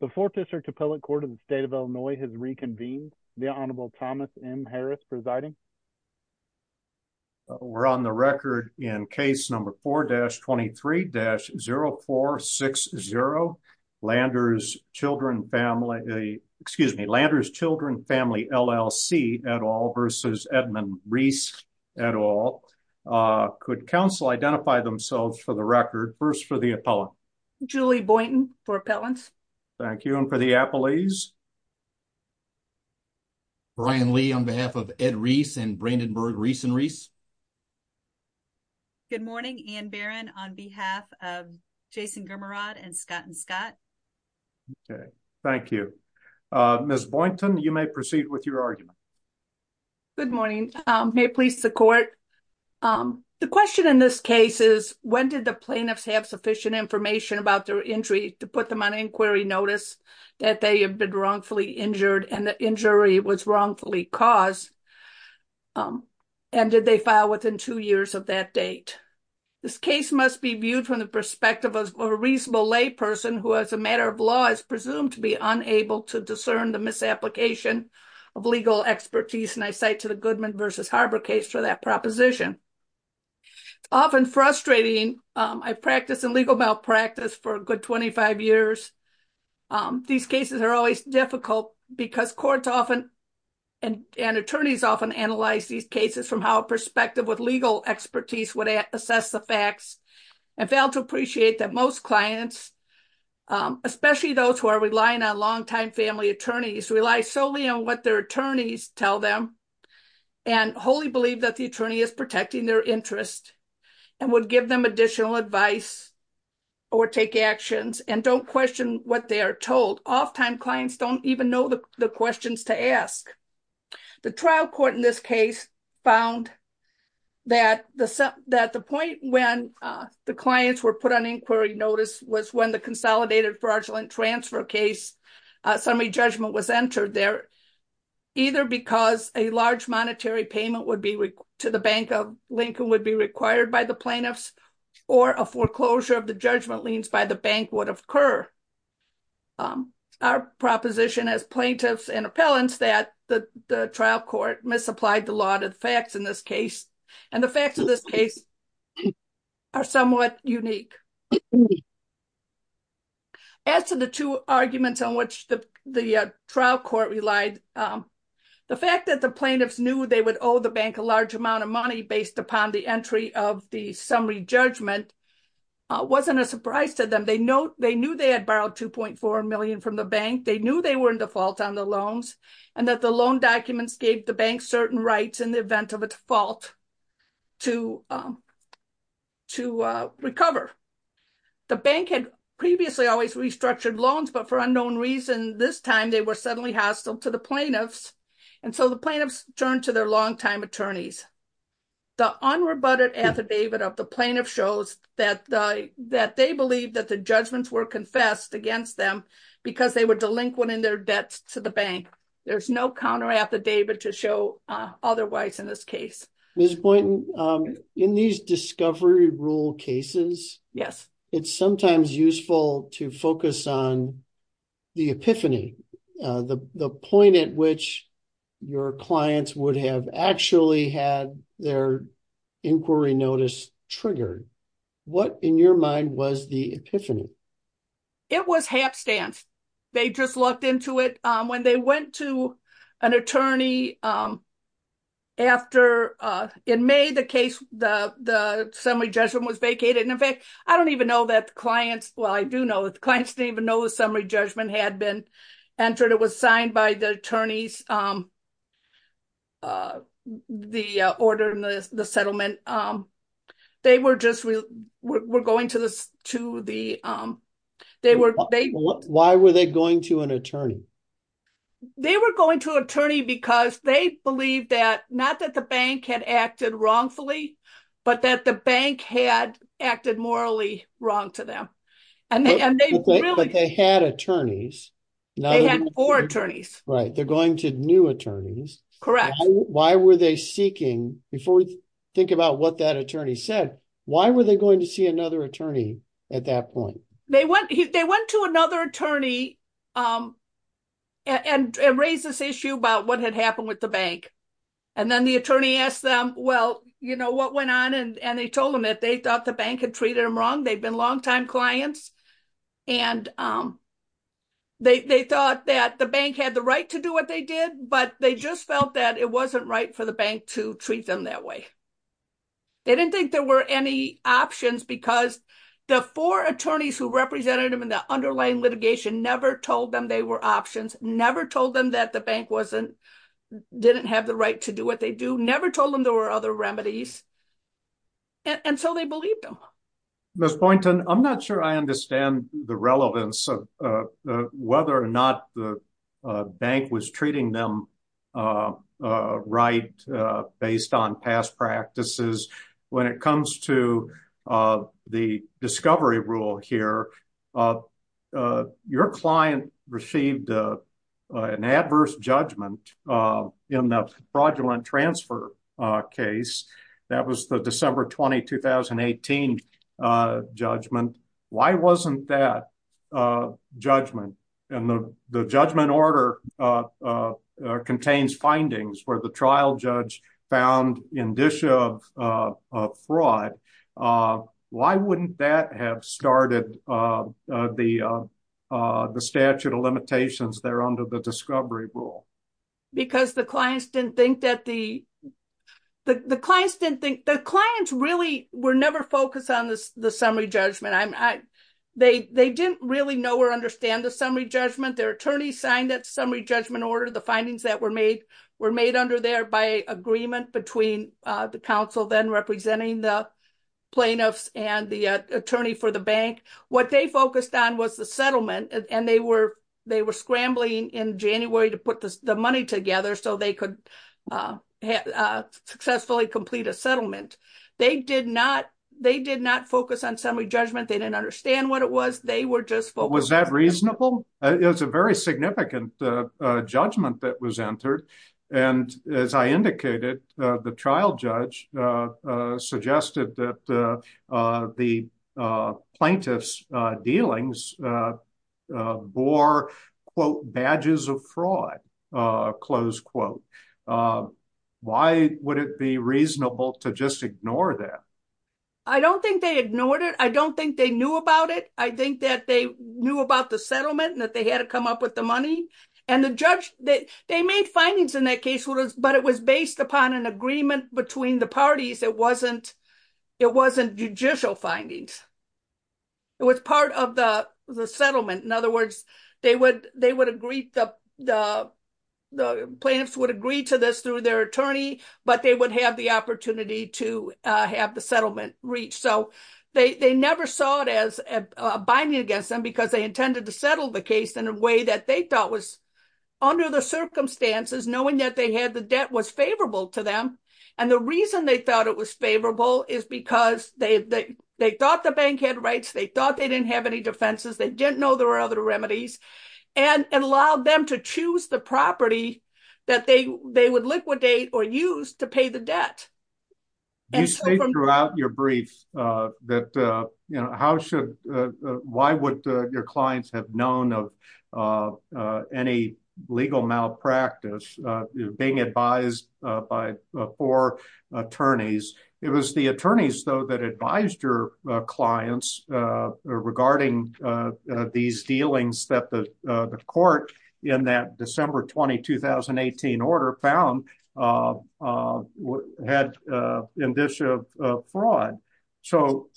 The Fourth District Appellate Court of the State of Illinois has reconvened. The Honorable Thomas M. Harris presiding. We're on the record in case number 4-23-0460, Landers Children Family, excuse me, Landers Children Family, LLC et al versus Edmund Rees et al. Could counsel identify themselves for the record? First for the appellant. Julie Boynton for appellants. Thank you. And for the appellees? Brian Lee on behalf of Ed Rees and Brandenburg Rees and Rees. Good morning. Ann Barron on behalf of Jason Germerod and Scott and Scott. Okay. Thank you. Ms. Boynton, you may proceed with your argument. Good morning. May it please the court. The question in this case is when did the plaintiffs have sufficient information about their injury to put them on inquiry notice that they have been wrongfully injured and the injury was wrongfully caused? And did they file within two years of that date? This case must be viewed from the perspective of a reasonable lay person who as a matter of law is presumed to be unable to discern the misapplication of legal expertise. And I say to the Goodman versus Harbor case for that proposition. It's often frustrating. I practiced in legal malpractice for a good 25 years. These cases are always difficult because courts often and attorneys often analyze these cases from how a perspective with legal expertise would assess the facts and fail to appreciate that most clients, especially those who are relying on longtime family attorneys, rely solely on what their attorneys tell them and wholly believe that the attorney is protecting their interest and would give them additional advice or take actions and don't question what they are told. Off-time clients don't even know the questions to ask. The trial court in this case found that the point when the clients were put on inquiry notice was when the consolidated fraudulent transfer case summary judgment was entered there, either because a large monetary payment to the Bank of Lincoln would be required by the plaintiffs or a foreclosure of the judgment liens by the bank would occur. Our proposition as plaintiffs and appellants that the trial court misapplied the law to the facts in this case and the facts of this case are somewhat unique. As to the two arguments on which the trial court relied, the fact that the plaintiffs knew they would owe the bank a large amount of money based upon the entry of the summary judgment wasn't a surprise to them. They knew they had borrowed $2.4 million from the bank. They knew they were in default on the loans and that the loan documents gave the bank certain rights in the event of a default to recover. The bank had previously always restructured loans but for unknown reason this time they were suddenly hostile to the plaintiffs and so the plaintiffs turned to their long-time attorneys. The unrebutted affidavit of the plaintiff shows that they believe that the judgments were confessed against them because they were delinquent in their debts to the bank. There's no counter affidavit to show otherwise in this case. Ms. Boynton, in these discovery rule cases, it's sometimes useful to focus on the epiphany, the point at which your clients would have actually had their They just lucked into it. When they went to an attorney after, in May, the case, the summary judgment was vacated. In fact, I don't even know that the clients, well I do know that the clients didn't even know the summary judgment had been entered. It was signed by the attorneys, the order, the settlement. They were just, we're going to the, they were, Why were they going to an attorney? They were going to an attorney because they believed that, not that the bank had acted wrongfully, but that the bank had acted morally wrong to them. But they had attorneys. They had four attorneys. Right. They're going to new attorneys. Correct. Why were they seeking, before we think about what that attorney said, why were they going to see another attorney at that point? They went to another attorney and raised this issue about what had happened with the bank. And then the attorney asked them, well, you know, what went on? And they told them that they thought the bank had treated them wrong. They've been longtime clients and they thought that the bank had the right to do what they did, but they just felt that it wasn't right for the bank to treat them that way. They didn't think there were any options because the four attorneys who represented them in the underlying litigation never told them they were options, never told them that the bank wasn't, didn't have the right to do what they do, never told them there were other remedies. And so they believed them. Ms. Boynton, I'm not sure I understand the relevance of whether or not the bank was treating them right based on past practices. When it comes to the discovery rule here, uh, your client received, uh, uh, an adverse judgment, uh, in the fraudulent transfer, uh, case that was the December 20, 2018, uh, judgment. Why wasn't that, uh, judgment and the, the judgment order, uh, uh, uh, contains findings where the trial judge found indicia of, uh, of fraud. Uh, why wouldn't that have started, uh, uh, the, uh, uh, the statute of limitations there under the discovery rule? Because the clients didn't think that the, the, the clients didn't think, the clients really were never focused on this, the summary judgment. I'm, I, they, they didn't really know or understand the summary judgment. Their attorney signed that summary judgment order. The findings that were made were made under there by agreement between, uh, the council then representing the plaintiffs and the attorney for the bank. What they focused on was the settlement and they were, they were scrambling in January to put the money together so they could, uh, uh, successfully complete a settlement. They did not, they did not focus on summary judgment. They didn't understand what it was. They were just focused. Was that reasonable? It was a very significant, uh, uh, judgment that was entered. And as I indicated, uh, the trial judge, uh, uh, suggested that, uh, uh, the, uh, plaintiff's, uh, dealings, uh, uh, bore quote badges of fraud, uh, close quote. Uh, why would it be reasonable to just ignore that? I don't think they ignored it. I don't think they knew about it. I think that they knew about the settlement and that they had to come up with the money and the judge that they findings in that case was, but it was based upon an agreement between the parties. It wasn't, it wasn't judicial findings. It was part of the, the settlement. In other words, they would, they would agree. The, the, the plaintiffs would agree to this through their attorney, but they would have the opportunity to, uh, have the settlement reach. So they, they never saw it as a binding against them because they intended to settle the case in a circumstances, knowing that they had, the debt was favorable to them. And the reason they thought it was favorable is because they, they, they thought the bank had rights. They thought they didn't have any defenses. They didn't know there were other remedies and allowed them to choose the property that they, they would liquidate or use to pay the debt. You state throughout your practice, uh, being advised, uh, by, uh, four attorneys, it was the attorneys though, that advised your clients, uh, regarding, uh, uh, these dealings that the, uh, the court in that December 20, 2018 order found, uh, uh, had, uh, in this, uh, uh, fraud. So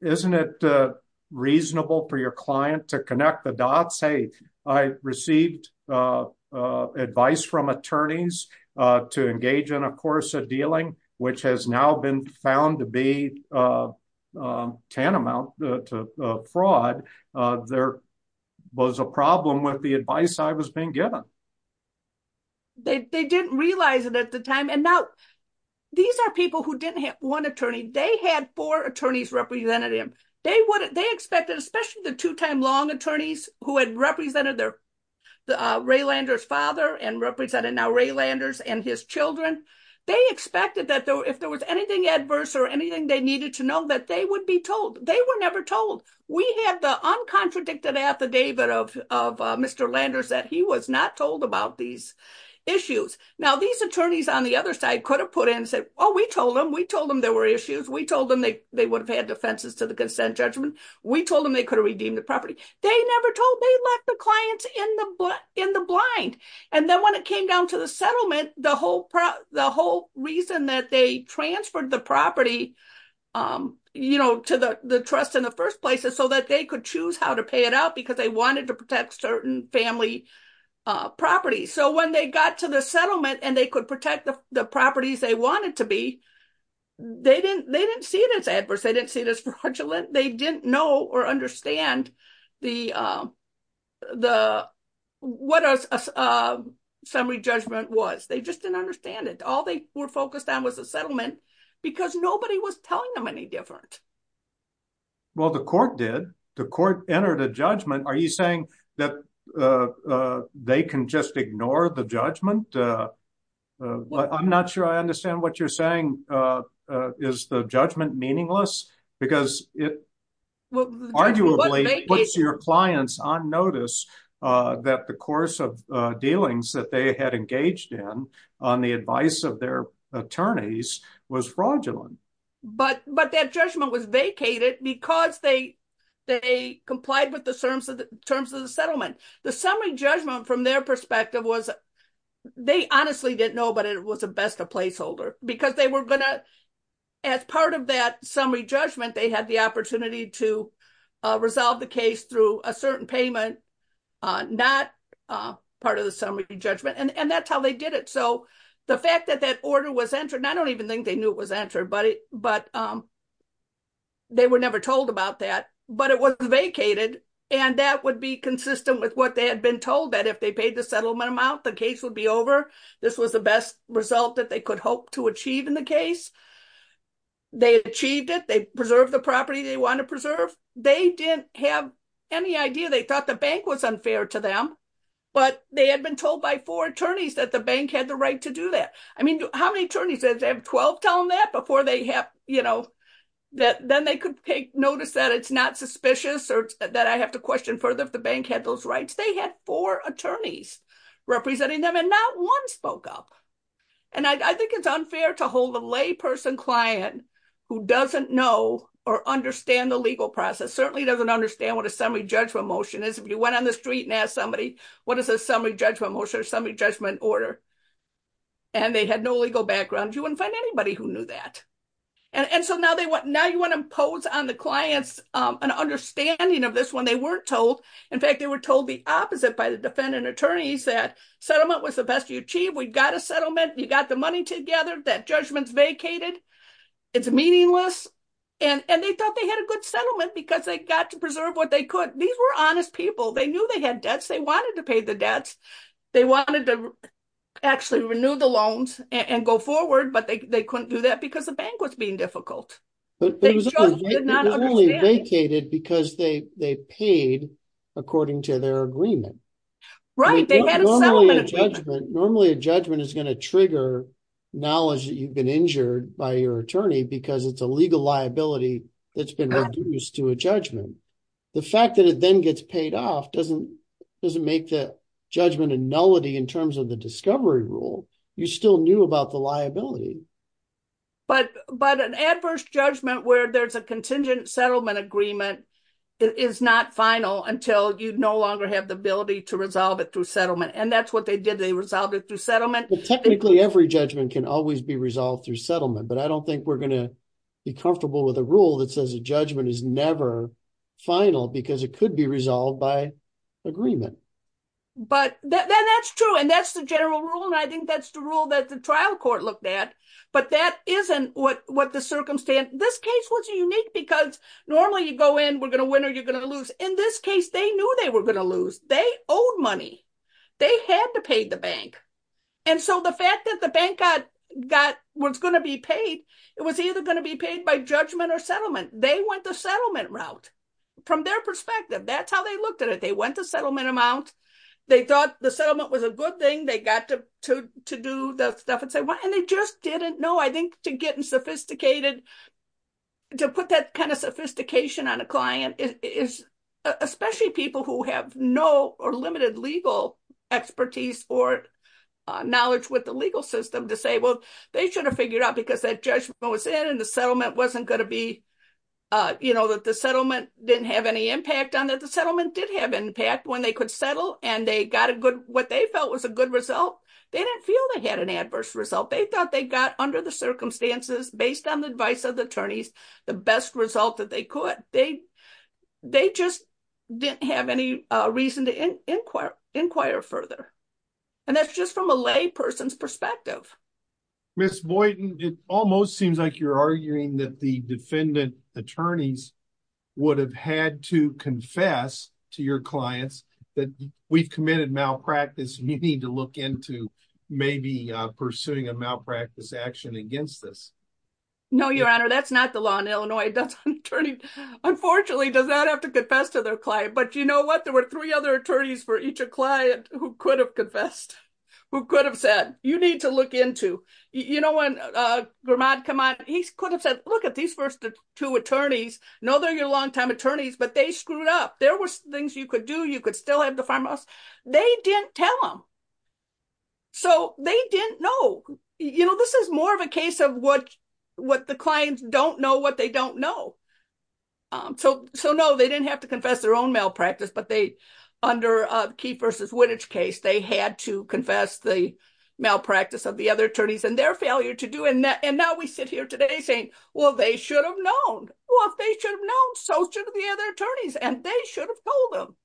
isn't it, uh, reasonable for your client to connect the dots? Hey, I received, uh, uh, advice from attorneys, uh, to engage in a course of dealing, which has now been found to be, uh, um, tantamount to, uh, fraud. Uh, there was a problem with the advice I was being given. They, they didn't realize it at the time. And now these are people who didn't have one attorney. They had four attorneys represented him. They wouldn't, they expected, especially the two-time long attorneys who had represented their, uh, Ray Landers' father and represented now Ray Landers and his children. They expected that though, if there was anything adverse or anything, they needed to know that they would be told. They were never told. We had the uncontradicted affidavit of, of, uh, Mr. Landers, that he was not told about these issues. Now these attorneys on the other side could have put in and said, oh, we told them, we told them there were issues. We told them they, they would have had defenses to the consent judgment. We told them they could have redeemed the property. They never told, they left the clients in the, in the blind. And then when it came down to the settlement, the whole pro, the whole reason that they transferred the property, um, you know, to the, the trust in the first place is so that they could choose how to pay it out because they wanted to protect certain family, uh, So when they got to the settlement and they could protect the properties they wanted to be, they didn't, they didn't see it as adverse. They didn't see it as fraudulent. They didn't know or understand the, uh, the, what a, uh, summary judgment was. They just didn't understand it. All they were focused on was the settlement because nobody was telling them any different. Well, the court did, the court entered a judgment. Are you saying that, uh, uh, they can just ignore the judgment? Uh, uh, well, I'm not sure I understand what you're saying. Uh, uh, is the judgment meaningless because it arguably puts your clients on notice, uh, that the course of, uh, dealings that they had engaged in on the advice of their attorneys was fraudulent. But, but that judgment was vacated because they, they complied with the terms of the terms of the settlement. The summary judgment from their perspective was, they honestly didn't know, but it was a best of placeholder because they were going to, as part of that summary judgment, they had the opportunity to, uh, resolve the case through a certain payment, uh, not, uh, part of the summary judgment and that's how they did it. So the fact that that order was entered, and I don't even think they knew it was entered, but it, it was vacated. And that would be consistent with what they had been told that if they paid the settlement amount, the case would be over. This was the best result that they could hope to achieve in the case. They achieved it. They preserved the property they want to preserve. They didn't have any idea. They thought the bank was unfair to them, but they had been told by four attorneys that the bank had the right to do that. I mean, how many attorneys, did they have 12 telling that before they have, you know, then they could take notice that it's not suspicious or that I have to question further if the bank had those rights. They had four attorneys representing them and not one spoke up. And I think it's unfair to hold a lay person client who doesn't know or understand the legal process. Certainly doesn't understand what a summary judgment motion is. If you went on the street and asked somebody, what is a summary judgment motion or summary judgment order? And they had no legal background. You wouldn't find anybody who knew that. And so now you want to impose on the clients an understanding of this when they weren't told. In fact, they were told the opposite by the defendant attorneys that settlement was the best you achieve. We've got a settlement. You got the money together. That judgment's vacated. It's meaningless. And they thought they had a good settlement because they got to preserve what they could. These were honest people. They knew they had debts. They wanted to pay the debts. They wanted to actually renew the loans and go forward, but they couldn't do that because the bank was being difficult. They vacated because they paid according to their agreement. Right. Normally a judgment is going to trigger knowledge that you've been injured by your attorney because it's a legal liability that's been reduced to a judgment. The fact that it then gets paid off doesn't make the judgment a nullity in terms of the discovery rule. You still knew about the liability. But an adverse judgment where there's a contingent settlement agreement is not final until you no longer have the ability to resolve it through settlement. And that's what they did. They resolved it through settlement. Technically, every judgment can always be resolved through settlement, but I don't think we're going to be comfortable with a rule that says a judgment is never final because it could be resolved by agreement. Then that's true, and that's the general rule, and I think that's the rule that the trial court looked at, but that isn't what the circumstance. This case was unique because normally you go in, we're going to win or you're going to lose. In this case, they knew they were going to lose. They owed money. They had to pay the bank. So the fact that the bank was going to be paid, it was either going to be paid by judgment or settlement. They went the settlement route from their perspective. That's how they looked at it. Went the settlement amount. They thought the settlement was a good thing. They got to do the stuff and they just didn't know. I think to put that kind of sophistication on a client, especially people who have no or limited legal expertise or knowledge with the legal system, to say, well, they should have figured out because that judgment was in and the settlement wasn't when they could settle and what they felt was a good result. They didn't feel they had an adverse result. They thought they got, under the circumstances, based on the advice of the attorneys, the best result that they could. They just didn't have any reason to inquire further, and that's just from a lay person's perspective. Ms. Boyden, it almost seems like you're arguing that the defendant attorneys would have had to that we've committed malpractice. You need to look into maybe pursuing a malpractice action against this. No, Your Honor, that's not the law in Illinois. That's an attorney, unfortunately, does not have to confess to their client. But you know what? There were three other attorneys for each client who could have confessed, who could have said, you need to look into. You know, when Grimaud come on, he could have said, look at these first two attorneys. No, they're your longtime attorneys, but they screwed up. There were things you could do. You could still have the farmhouse. They didn't tell them, so they didn't know. You know, this is more of a case of what the clients don't know what they don't know. So no, they didn't have to confess their own malpractice, but under Keefe versus Wittage case, they had to confess the malpractice of the other attorneys and their failure to do, and now we sit here today saying, well, they should have known. Well, if they should have known, so should the other attorneys, and they should have told them.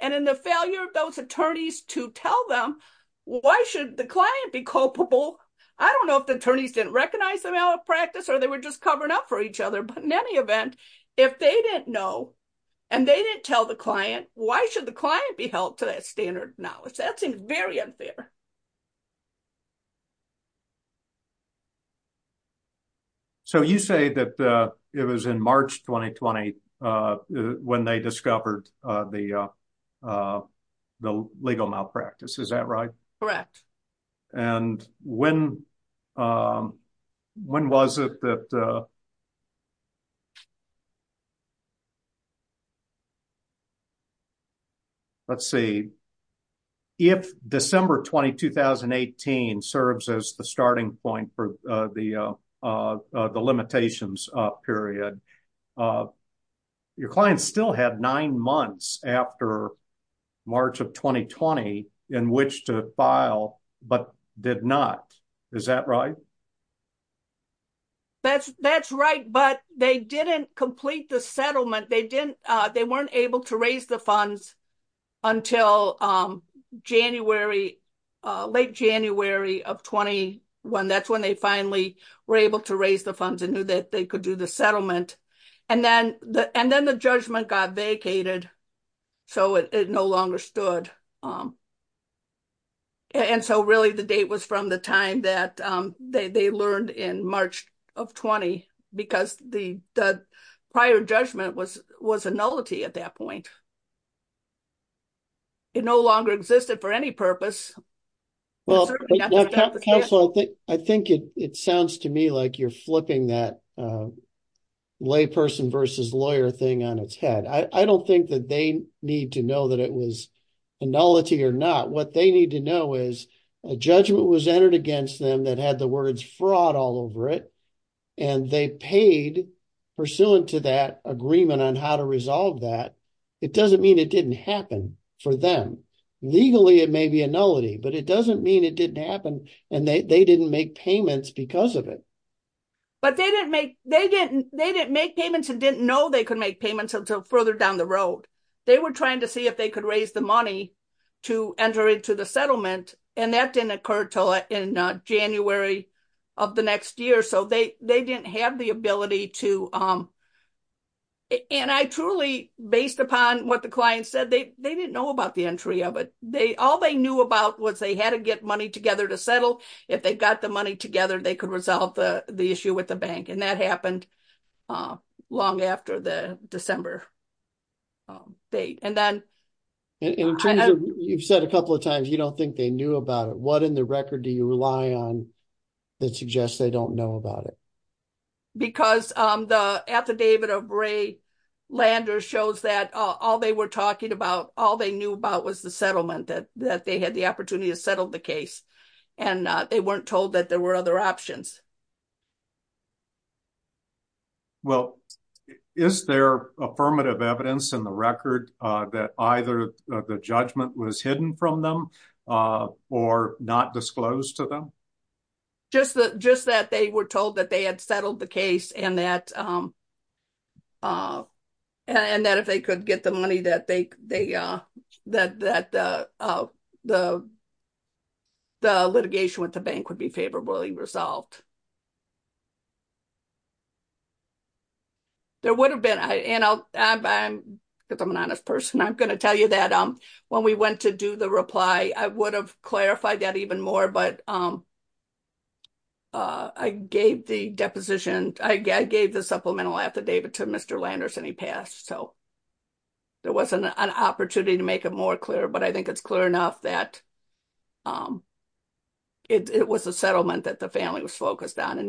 And in the failure of those attorneys to tell them, why should the client be culpable? I don't know if the attorneys didn't recognize the malpractice or they were just covering up for each other. But in any event, if they didn't know and they didn't tell the client, why should the client be held to that when they discovered the legal malpractice? Is that right? Correct. And when was it that, let's see, if December 20, 2018 serves as the starting point for the limitations period, your clients still had nine months after March of 2020 in which to file, but did not. Is that right? That's right, but they didn't complete the settlement. They weren't able to raise the funds until late January of 21. That's when they finally were able to raise the funds and knew that they could do the settlement. And then the judgment got vacated, so it no longer stood. And so really the date was from the time that they learned in March of 20, because the prior judgment was a nullity at that point. It no longer existed for any purpose. Well, I think it sounds to me like you're flipping that layperson versus lawyer thing on its head. I don't think that they need to know that it was a nullity or not. What they need to know is a judgment was entered against them that had the words fraud all over it, and they paid pursuant to that agreement on how to resolve that. It doesn't mean it didn't happen for them. Legally, it may be a nullity, but it doesn't mean it didn't happen and they didn't make payments because of it. But they didn't make payments and didn't know they could make payments until further down the road. They were trying to see if they could raise the money to enter into the settlement, and that didn't occur until in January of the next year. So they didn't have the ability to. And I truly, based upon what the client said, they didn't know about the entry of it. All they knew about was they had to get money together to settle. If they got the money together, they could resolve the issue with the bank. And that happened long after the December date. And in terms of, you've said a couple of times, you don't think they knew about it. What in the record do you rely on that suggests they don't know about it? Because the affidavit of Ray Landers shows that all they were talking about, all they knew about was the settlement, that they had the opportunity to settle the case. And they weren't told that there were other options. Well, is there affirmative evidence in the record that either the judgment was hidden from them or not disclosed to them? Just that they were told that they had settled the case and that if they could get the money that the litigation with the bank would be favorably resolved. There would have been, because I'm an honest person, I'm going to tell you that when we went to do the reply, I would have clarified that even more. But I gave the deposition, I gave the supplemental affidavit to Mr. Landers and he passed. So there wasn't an opportunity to make it more clear. But I think it's clear enough that it was a settlement that the family was focused on and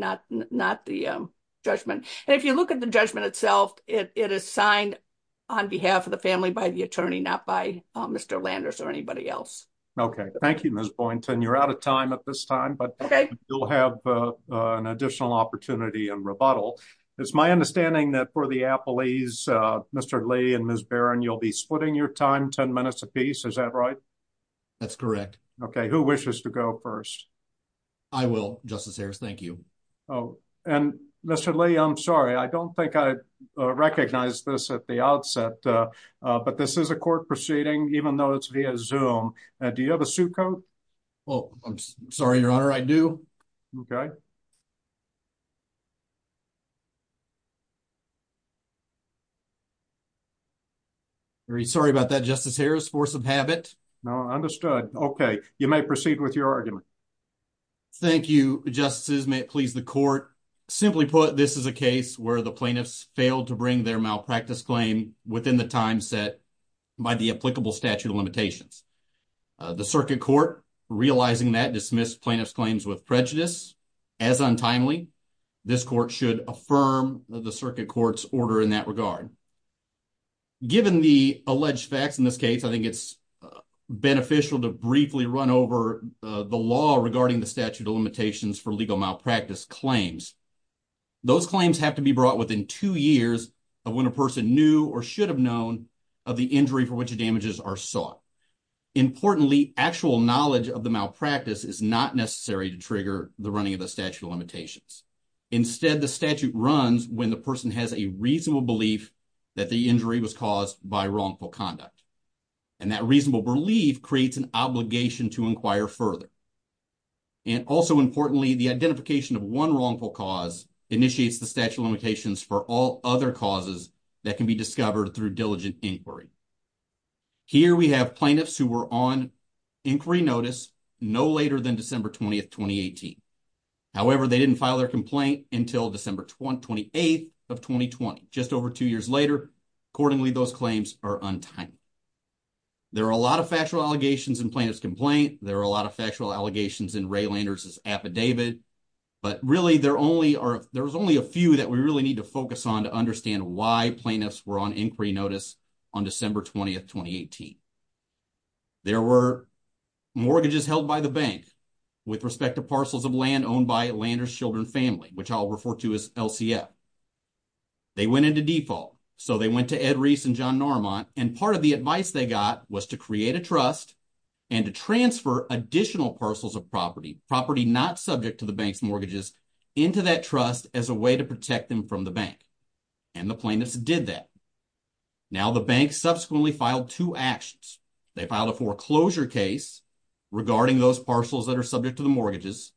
not the judgment. And if you look at the judgment itself, it is signed on behalf of the family by the attorney, not by Mr. Landers or anybody else. Okay. Thank you, Ms. Boynton. You're out of time at this time, but you'll have an additional opportunity in rebuttal. It's my understanding that for the Appleys, Mr. Lee and Ms. Barron, you'll be splitting your time 10 minutes a piece. Is that right? That's correct. Okay. Who wishes to go first? I will, Justice Ayres. Thank you. Oh, and Mr. Lee, I'm sorry. I don't think I recognized this at the outset, but this is a court proceeding, even though it's via Zoom. Do you have a suit coat? Oh, I'm sorry, Your Honor. I do. Okay. Very sorry about that, Justice Ayres. Force of habit. No, understood. Okay. You may proceed with your argument. Thank you, Justices. May it please the court. Simply put, this is a case where the plaintiffs failed to bring their malpractice claim within the time set by the applicable statute of limitations. The circuit court, realizing that, dismissed plaintiff's claims with prejudice. As untimely, this court should affirm the circuit court's order in that regard. Given the alleged facts in this case, I think it's beneficial to briefly run over the law regarding the statute of limitations for legal malpractice claims. Those claims have to be brought within two years of when a person knew or should have known of the injury for which damages are sought. Importantly, actual knowledge of the malpractice is not necessary to trigger the running of the statute of limitations. Instead, the statute runs when the person has a reasonable belief that the injury was caused by wrongful conduct. And that reasonable belief creates an obligation to inquire further. And also importantly, the identification of one wrongful cause initiates the statute of limitations for all other causes that can be discovered through diligent inquiry. Here we have plaintiffs who were on inquiry notice no later than December 20th, 2018. However, they didn't file their complaint until December 28th of 2020. Just plaintiff's complaint. There are a lot of factual allegations in Ray Lander's affidavit. But really, there's only a few that we really need to focus on to understand why plaintiffs were on inquiry notice on December 20th, 2018. There were mortgages held by the bank with respect to parcels of land owned by Lander's children family, which I'll refer to as LCF. They went into default. So they went to Ed Rees and John Normont. And part of the advice they got was to create a trust and to transfer additional parcels of property, property not subject to the bank's mortgages, into that trust as a way to protect them from the bank. And the plaintiffs did that. Now the bank subsequently filed two actions. They filed a foreclosure case regarding those parcels that are subject to the mortgages.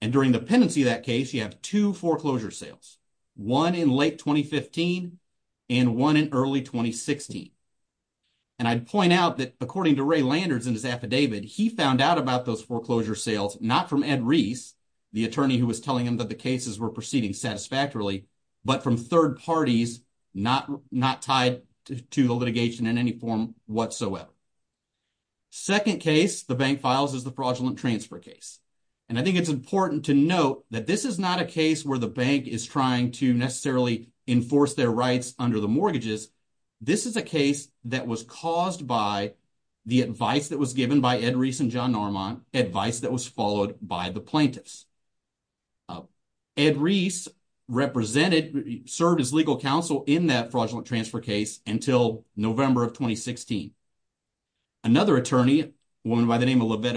And during the pendency of that case, you have two foreclosure sales, one in late 2015, and one in early 2016. And I'd point out that according to Ray Lander's in his affidavit, he found out about those foreclosure sales, not from Ed Rees, the attorney who was telling him that the cases were proceeding satisfactorily, but from third parties, not tied to the litigation in any form whatsoever. Second case the bank files is the fraudulent transfer case. And I think it's important to note that this is not a case where the bank is trying to necessarily enforce their rights under the mortgages. This is a case that was caused by the advice that was given by Ed Rees and John Normont, advice that was followed by the plaintiffs. Ed Rees represented, served as legal counsel in that fraudulent transfer case until November of 2016. Another attorney, a woman by the name of And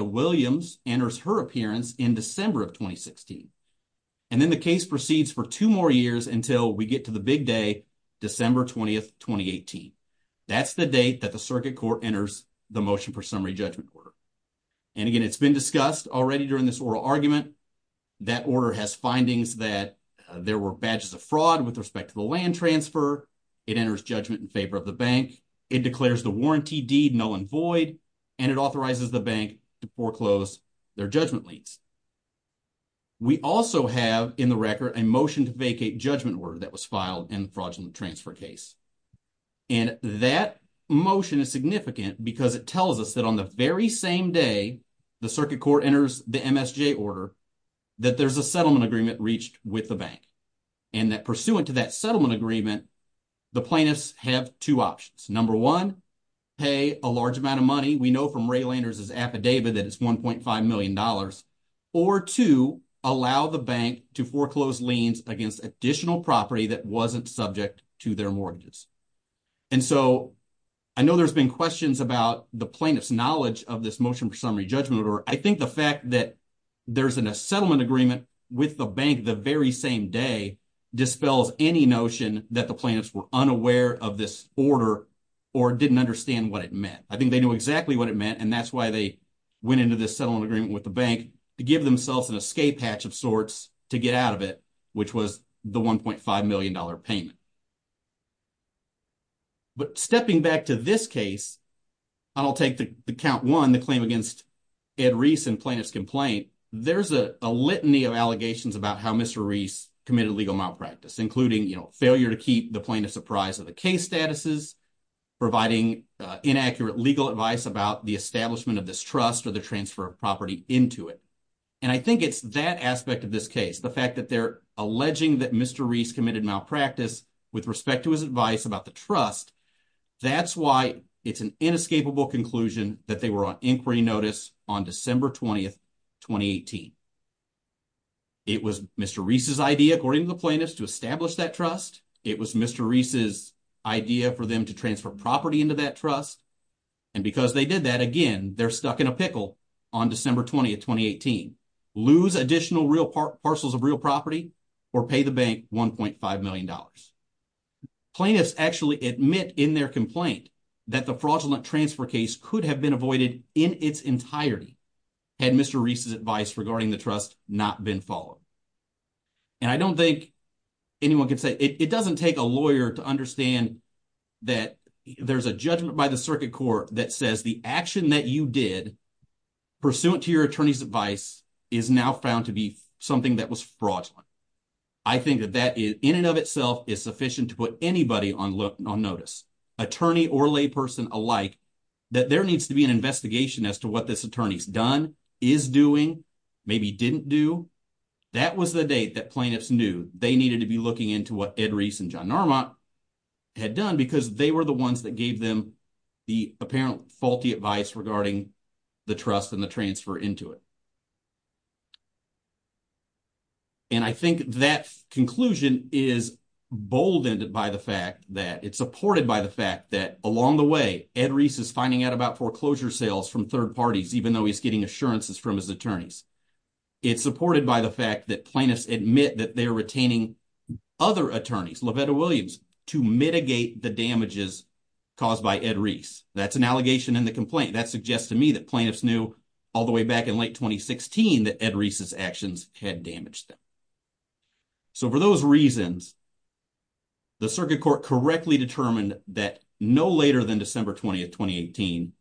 then the case proceeds for two more years until we get to the big day, December 20th, 2018. That's the date that the circuit court enters the motion for summary judgment order. And again, it's been discussed already during this oral argument, that order has findings that there were badges of fraud with respect to the land transfer. It enters judgment in favor of the bank. It declares the warranty deed null and void, and it authorizes the bank to foreclose their judgment liens. We also have in the record a motion to vacate judgment order that was filed in fraudulent transfer case. And that motion is significant because it tells us that on the very same day, the circuit court enters the MSJ order, that there's a settlement agreement reached with the bank. And that pursuant to that settlement agreement, the plaintiffs have two options. Number one, pay a large amount of money. We know from Ray Landers' affidavit that it's $1.5 million. Or two, allow the bank to foreclose liens against additional property that wasn't subject to their mortgages. And so I know there's been questions about the plaintiff's knowledge of this motion for summary judgment order. I think the fact that there's a settlement agreement with the bank the very same day dispels any notion that the plaintiffs were unaware of this order or didn't understand what it meant. I think they knew exactly what it meant, and that's why they went into this settlement agreement with the bank to give themselves an escape hatch of sorts to get out of it, which was the $1.5 million payment. But stepping back to this case, I'll take the count one, the claim against Ed Reese and plaintiff's complaint. There's a litany of allegations about how Mr. Reese committed legal malpractice, including, you know, failure to keep the plaintiffs apprised of the case statuses, providing inaccurate legal advice about the establishment of this trust or the transfer of property into it. And I think it's that aspect of this case, the fact that they're alleging that Mr. Reese committed malpractice with respect to his advice about the trust, that's why it's an inescapable conclusion that they were on inquiry notice on December 20, 2018. It was Mr. Reese's idea, according to the plaintiffs, to establish that trust. It was Mr. Reese's idea for them to transfer property into that trust. And because they did that, again, they're stuck in a pickle on December 20, 2018. Lose additional real parcels of real property or pay the bank $1.5 million. Plaintiffs actually admit in their complaint that the fraudulent transfer case could have been avoided in its entirety had Mr. Reese's the trust not been followed. And I don't think anyone can say, it doesn't take a lawyer to understand that there's a judgment by the circuit court that says the action that you did pursuant to your attorney's advice is now found to be something that was fraudulent. I think that that in and of itself is sufficient to put anybody on notice, attorney or lay person alike, that there didn't do. That was the date that plaintiffs knew they needed to be looking into what Ed Reese and John Narmont had done because they were the ones that gave them the apparent faulty advice regarding the trust and the transfer into it. And I think that conclusion is boldened by the fact that it's supported by the fact that along the way, Ed Reese is finding out about foreclosure sales from third parties, even though he's getting assurances from his attorneys. It's supported by the fact that plaintiffs admit that they're retaining other attorneys, LaVetta Williams, to mitigate the damages caused by Ed Reese. That's an allegation in the complaint. That suggests to me that plaintiffs knew all the way back in late 2016 that Ed Reese's actions had damaged them. So for those reasons, the circuit court correctly determined that no later than December 20th, 2018,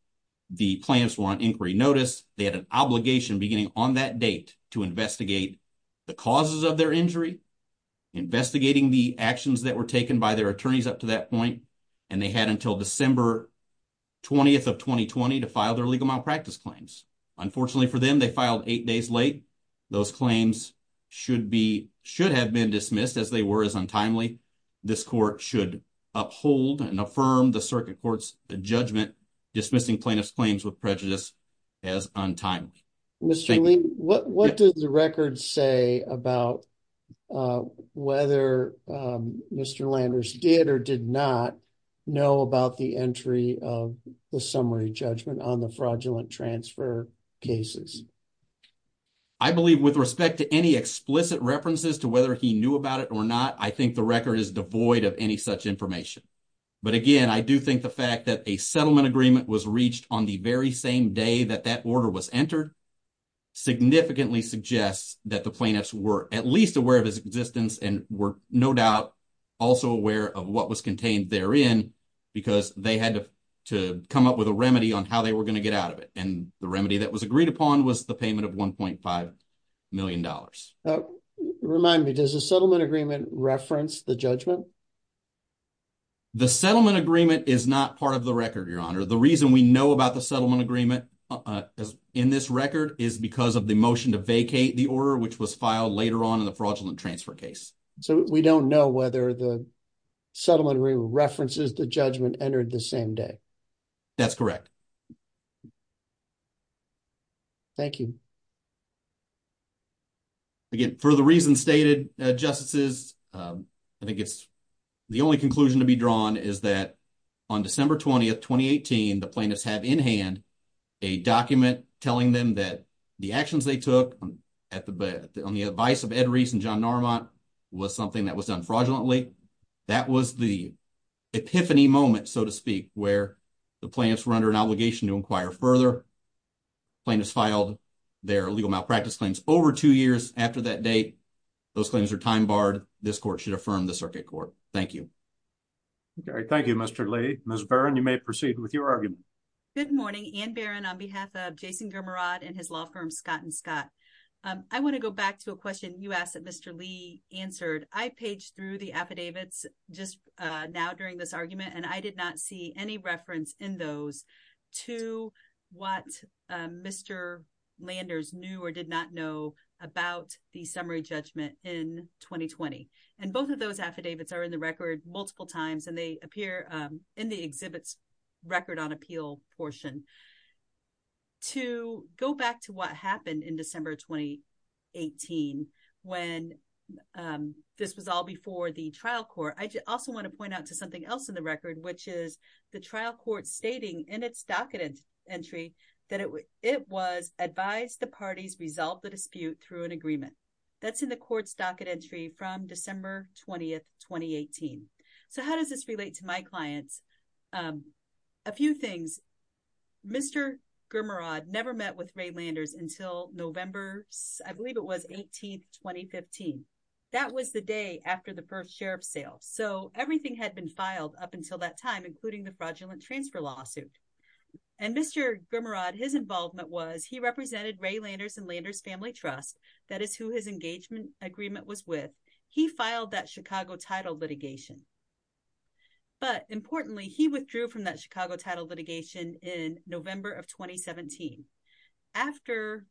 the plaintiffs were on inquiry notice. They had an obligation beginning on that date to investigate the causes of their injury, investigating the actions that were taken by their attorneys up to that point. And they had until December 20th of 2020 to file their legal malpractice claims. Unfortunately for them, they filed eight days late. Those claims should have been dismissed as they were as untimely. This court should uphold and affirm the circuit court's judgment, dismissing plaintiff's claims with prejudice as untimely. Mr. Lee, what does the record say about whether Mr. Landers did or did not know about the entry of the summary judgment on the fraudulent transfer cases? I believe with respect to any explicit references to whether he knew about it or not, I think the record is devoid of any such information. But again, I do think the was reached on the very same day that that order was entered significantly suggests that the plaintiffs were at least aware of his existence and were no doubt also aware of what was contained there in because they had to come up with a remedy on how they were going to get out of it. And the remedy that was agreed upon was the payment of $1.5 million. Remind me, does the settlement agreement reference the judgment? The settlement agreement is not part of the record, Your Honor. The reason we know about the settlement agreement in this record is because of the motion to vacate the order, which was filed later on in the fraudulent transfer case. So we don't know whether the settlement references the judgment entered the same day. That's correct. Thank you. Again, for the reasons stated, Justices, I think it's the only conclusion to be drawn is that on December 20th, 2018, the plaintiffs have in hand a document telling them that the actions they took on the advice of Ed Rees and John Narmont was something that was done fraudulently. That was the epiphany moment, so to speak, where the plaintiffs were under an obligation to inquire further. The plaintiffs filed their legal malpractice claims over two years after that date. Those claims are time barred. This court should affirm the circuit court. Thank you. Thank you, Mr. Lee. Ms. Barron, you may proceed with your argument. Good morning, Anne Barron, on behalf of Jason Germerod and his law firm Scott & Scott. I want to go back to a question you asked that Mr. Lee answered. I paged through the what Mr. Landers knew or did not know about the summary judgment in 2020. Both of those affidavits are in the record multiple times, and they appear in the exhibit's record on appeal portion. To go back to what happened in December 2018 when this was all before the trial court, I also want to point out to something else in the record, which is the trial court stating in its docket entry that it was advised the parties resolve the dispute through an agreement. That's in the court's docket entry from December 20, 2018. How does this relate to my clients? A few things. Mr. Germerod never met with Ray Landers until November, I believe it was, 18, 2015. That was the day after the first sheriff's sale. Everything had been filed up until that lawsuit. Mr. Germerod, his involvement was he represented Ray Landers and Landers Family Trust. That is who his engagement agreement was with. He filed that Chicago title litigation. But importantly, he withdrew from that Chicago title litigation in November of 2017.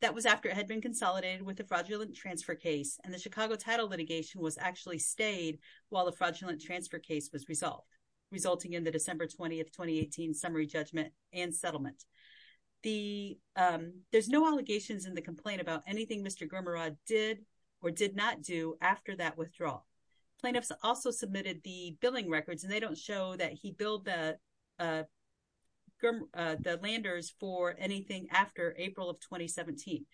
That was after it had been consolidated with the fraudulent transfer case, and the Chicago title litigation was actually stayed while the fraudulent transfer case was resolved, resulting in the December 20, 2018 summary judgment and settlement. There's no allegations in the complaint about anything Mr. Germerod did or did not do after that withdrawal. Plaintiffs also submitted the billing records, and they don't show that he billed the Landers for anything after April of 2017.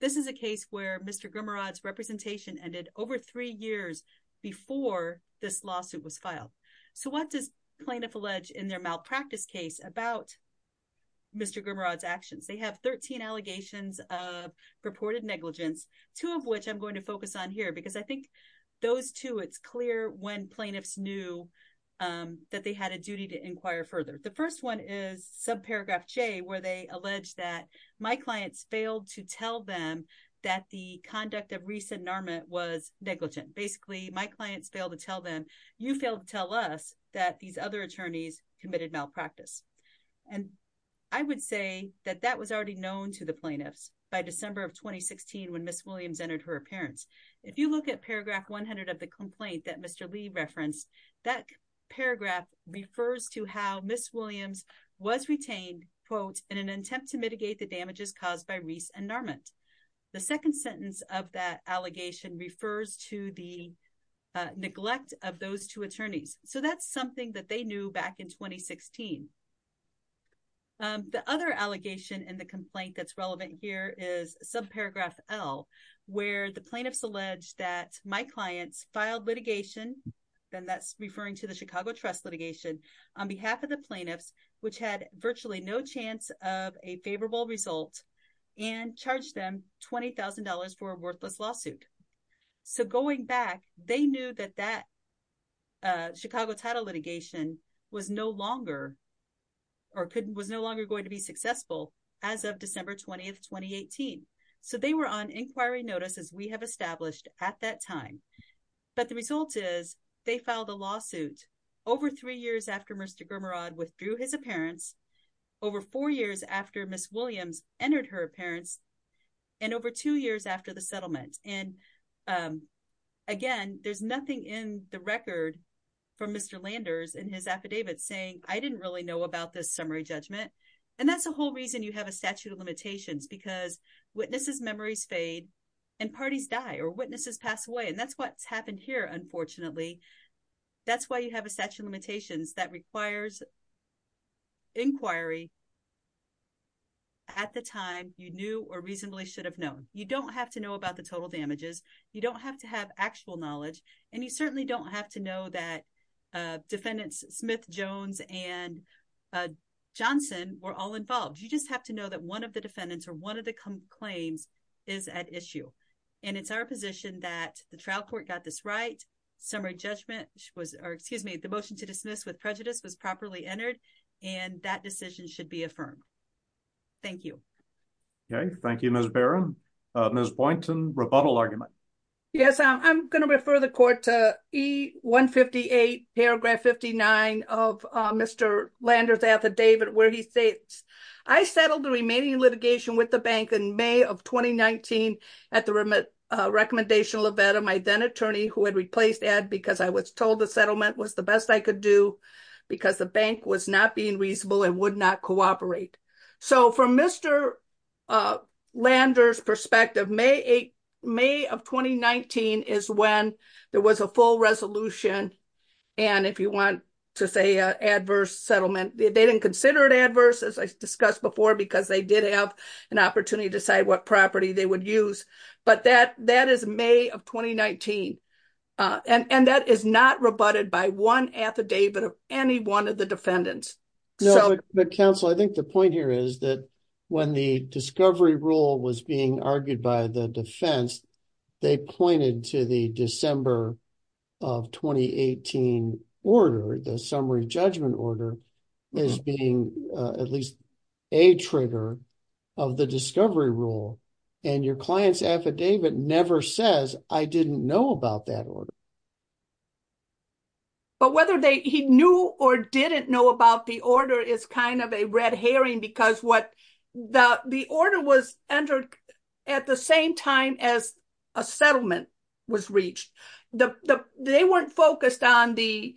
This is a case where Mr. Germerod's representation ended over three years before this lawsuit was filed. So what does plaintiff allege in their malpractice case about Mr. Germerod's actions? They have 13 allegations of reported negligence, two of which I'm going to focus on here because I think those two, it's clear when plaintiffs knew that they had a duty to inquire further. The first one is subparagraph J, where they allege that my clients failed to tell them, you failed to tell us that these other attorneys committed malpractice. And I would say that that was already known to the plaintiffs by December of 2016 when Ms. Williams entered her appearance. If you look at paragraph 100 of the complaint that Mr. Lee referenced, that paragraph refers to how Ms. Williams was retained, quote, in an attempt to mitigate the damages caused by of those two attorneys. So that's something that they knew back in 2016. The other allegation in the complaint that's relevant here is subparagraph L, where the plaintiffs allege that my clients filed litigation, and that's referring to the Chicago Trust litigation, on behalf of the plaintiffs, which had virtually no chance of a favorable result, and charged them $20,000 for a worthless lawsuit. So going back, they knew that that Chicago Title litigation was no longer, or couldn't, was no longer going to be successful as of December 20, 2018. So they were on inquiry notice, as we have established at that time. But the result is they filed a lawsuit over three years after Mr. Gurmarad withdrew his appearance, over four years after Ms. Williams entered her appearance, and over two years after the settlement. And again, there's nothing in the record from Mr. Landers in his affidavit saying, I didn't really know about this summary judgment. And that's the whole reason you have a statute of limitations, because witnesses' memories fade and parties die, or witnesses pass away. And that's what's happened here, unfortunately. That's why you have a statute of limitations that requires inquiry at the time you knew or reasonably should have known. You don't have to know about the total damages. You don't have to have actual knowledge. And you certainly don't have to know that defendants Smith, Jones, and Johnson were all involved. You just have to know that one of the defendants or one of the claims is at issue. And it's our position that the trial court got this summary judgment, or excuse me, the motion to dismiss with prejudice was properly entered, and that decision should be affirmed. Thank you. Okay, thank you, Ms. Barron. Ms. Boynton, rebuttal argument. Yes, I'm going to refer the court to E-158, paragraph 59 of Mr. Landers' affidavit, where he states, I settled the remaining litigation with the bank in May of 2019 at the recommendational event of my then-attorney who had replaced Ed because I was told the settlement was the best I could do because the bank was not being reasonable and would not cooperate. So from Mr. Landers' perspective, May of 2019 is when there was a full resolution. And if you want to say adverse settlement, they didn't consider it adverse, as I discussed before, because they did have an opportunity to decide what property they would use. But that is May of 2019. And that is not rebutted by one affidavit of any one of the defendants. No, but counsel, I think the point here is that when the discovery rule was being argued by the defense, they pointed to the December of 2018 order, the summary judgment order, as being at least a trigger of the discovery rule. And your client's affidavit never says, I didn't know about that order. But whether he knew or didn't know about the order is kind of a red herring because the order was entered at the same time as a settlement was reached. They weren't focused on the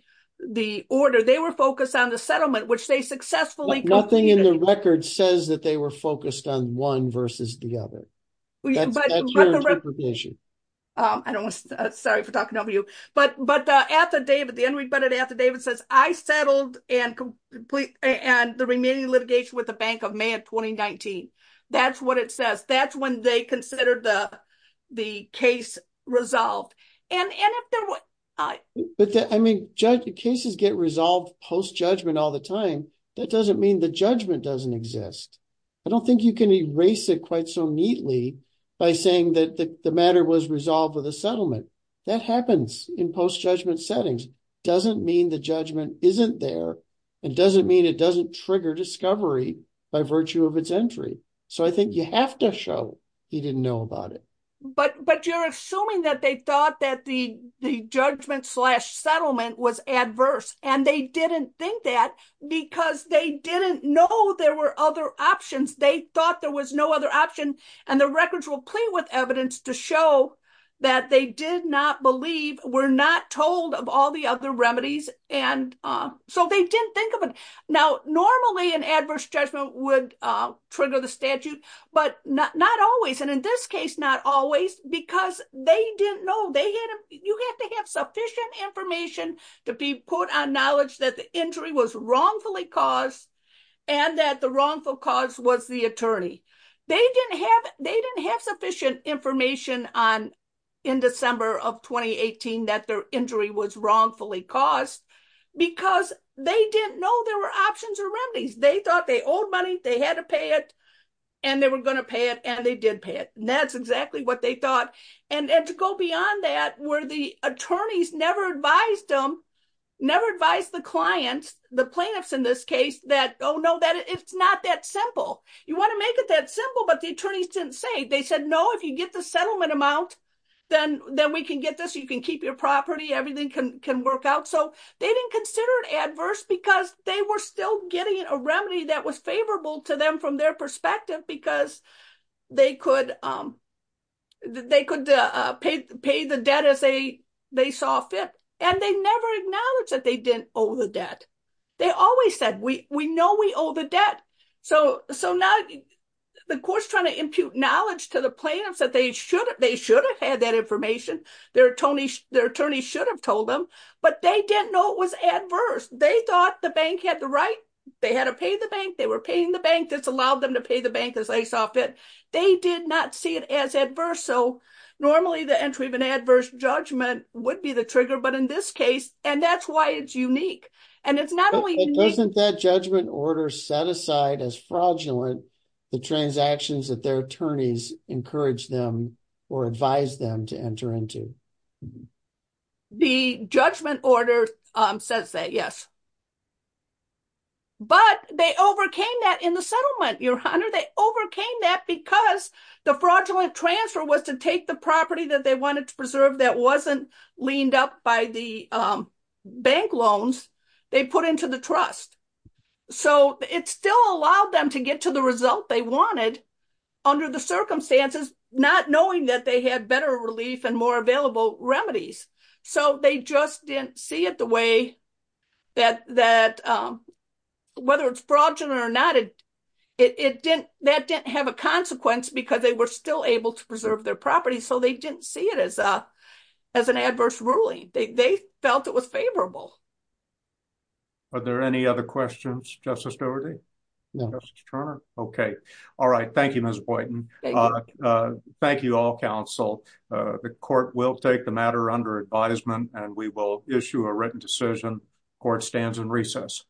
order. They were focused on the settlement, which they successfully completed. But nothing in the record says that they were focused on one versus the other. That's your interpretation. Sorry for talking over you. But the unrebutted affidavit says, I settled and the remaining litigation with the Bank of May of 2019. That's what it says. That's when they considered the case resolved. I mean, cases get resolved post-judgment all the time. That doesn't mean the judgment doesn't exist. I don't think you can erase it quite so neatly by saying that the matter was resolved with a settlement. That happens in post-judgment settings. It doesn't mean the judgment isn't there. It doesn't mean it doesn't trigger discovery by virtue of its entry. So I think you have to show he didn't know about it. But you're assuming that they thought that the judgment slash settlement was adverse. And they didn't think that because they didn't know there were other options. They thought there was no other option. And the records will play with evidence to show that they did not believe, were not told of all the other remedies. And so they didn't think of it. Now, normally, an adverse judgment would trigger the statute, but not always. And in this case, not always, because they didn't know. You have to have sufficient information to be put on knowledge that the injury was wrongfully caused and that the wrongful cause was the attorney. They didn't have sufficient information in December of 2018 that their injury was wrongfully caused because they didn't know there were options or remedies. They thought they owed money. They had to pay it. And they were going to pay it. And they did pay it. And that's exactly what they thought. And to go beyond that, where the attorneys never advised them, never advised the clients, the plaintiffs in this case, that, oh, no, it's not that simple. You want to make it that simple. But the attorneys didn't say. They said, no, if you get the settlement amount, then we can get this. You can keep your property. Everything can work out. So they didn't consider it adverse because they were still getting a remedy that was favorable to them from their perspective because they could pay the debt as they saw fit. And they never acknowledged that they didn't owe the debt. They always said, we know we owe the debt. So now the court's trying to impute knowledge to the plaintiffs that they should have had that information. Their attorneys should have told them. But they didn't know it was adverse. They thought the bank had the right. They had to pay the bank. They were paying the bank. This allowed them to pay the bank as they saw fit. They did not see it as adverse. So normally, the entry of an adverse judgment would be the trigger. But in this case, and that's why it's unique. And it's not only- The judgment order says that, yes. But they overcame that in the settlement, Your Honor. They overcame that because the fraudulent transfer was to take the property that they wanted to preserve that wasn't leaned up by the bank loans they put into the trust. So it still allowed them to get to the result they wanted under the circumstances, not knowing that they had better relief and more available remedies. So they just didn't see it the way that whether it's fraudulent or not, that didn't have a consequence because they were still able to preserve their property. So they didn't see it as an adverse ruling. They felt it was just an adverse ruling. Thank you. Thank you all, counsel. The court will take the matter under advisement and we will issue a written decision. Court stands in recess.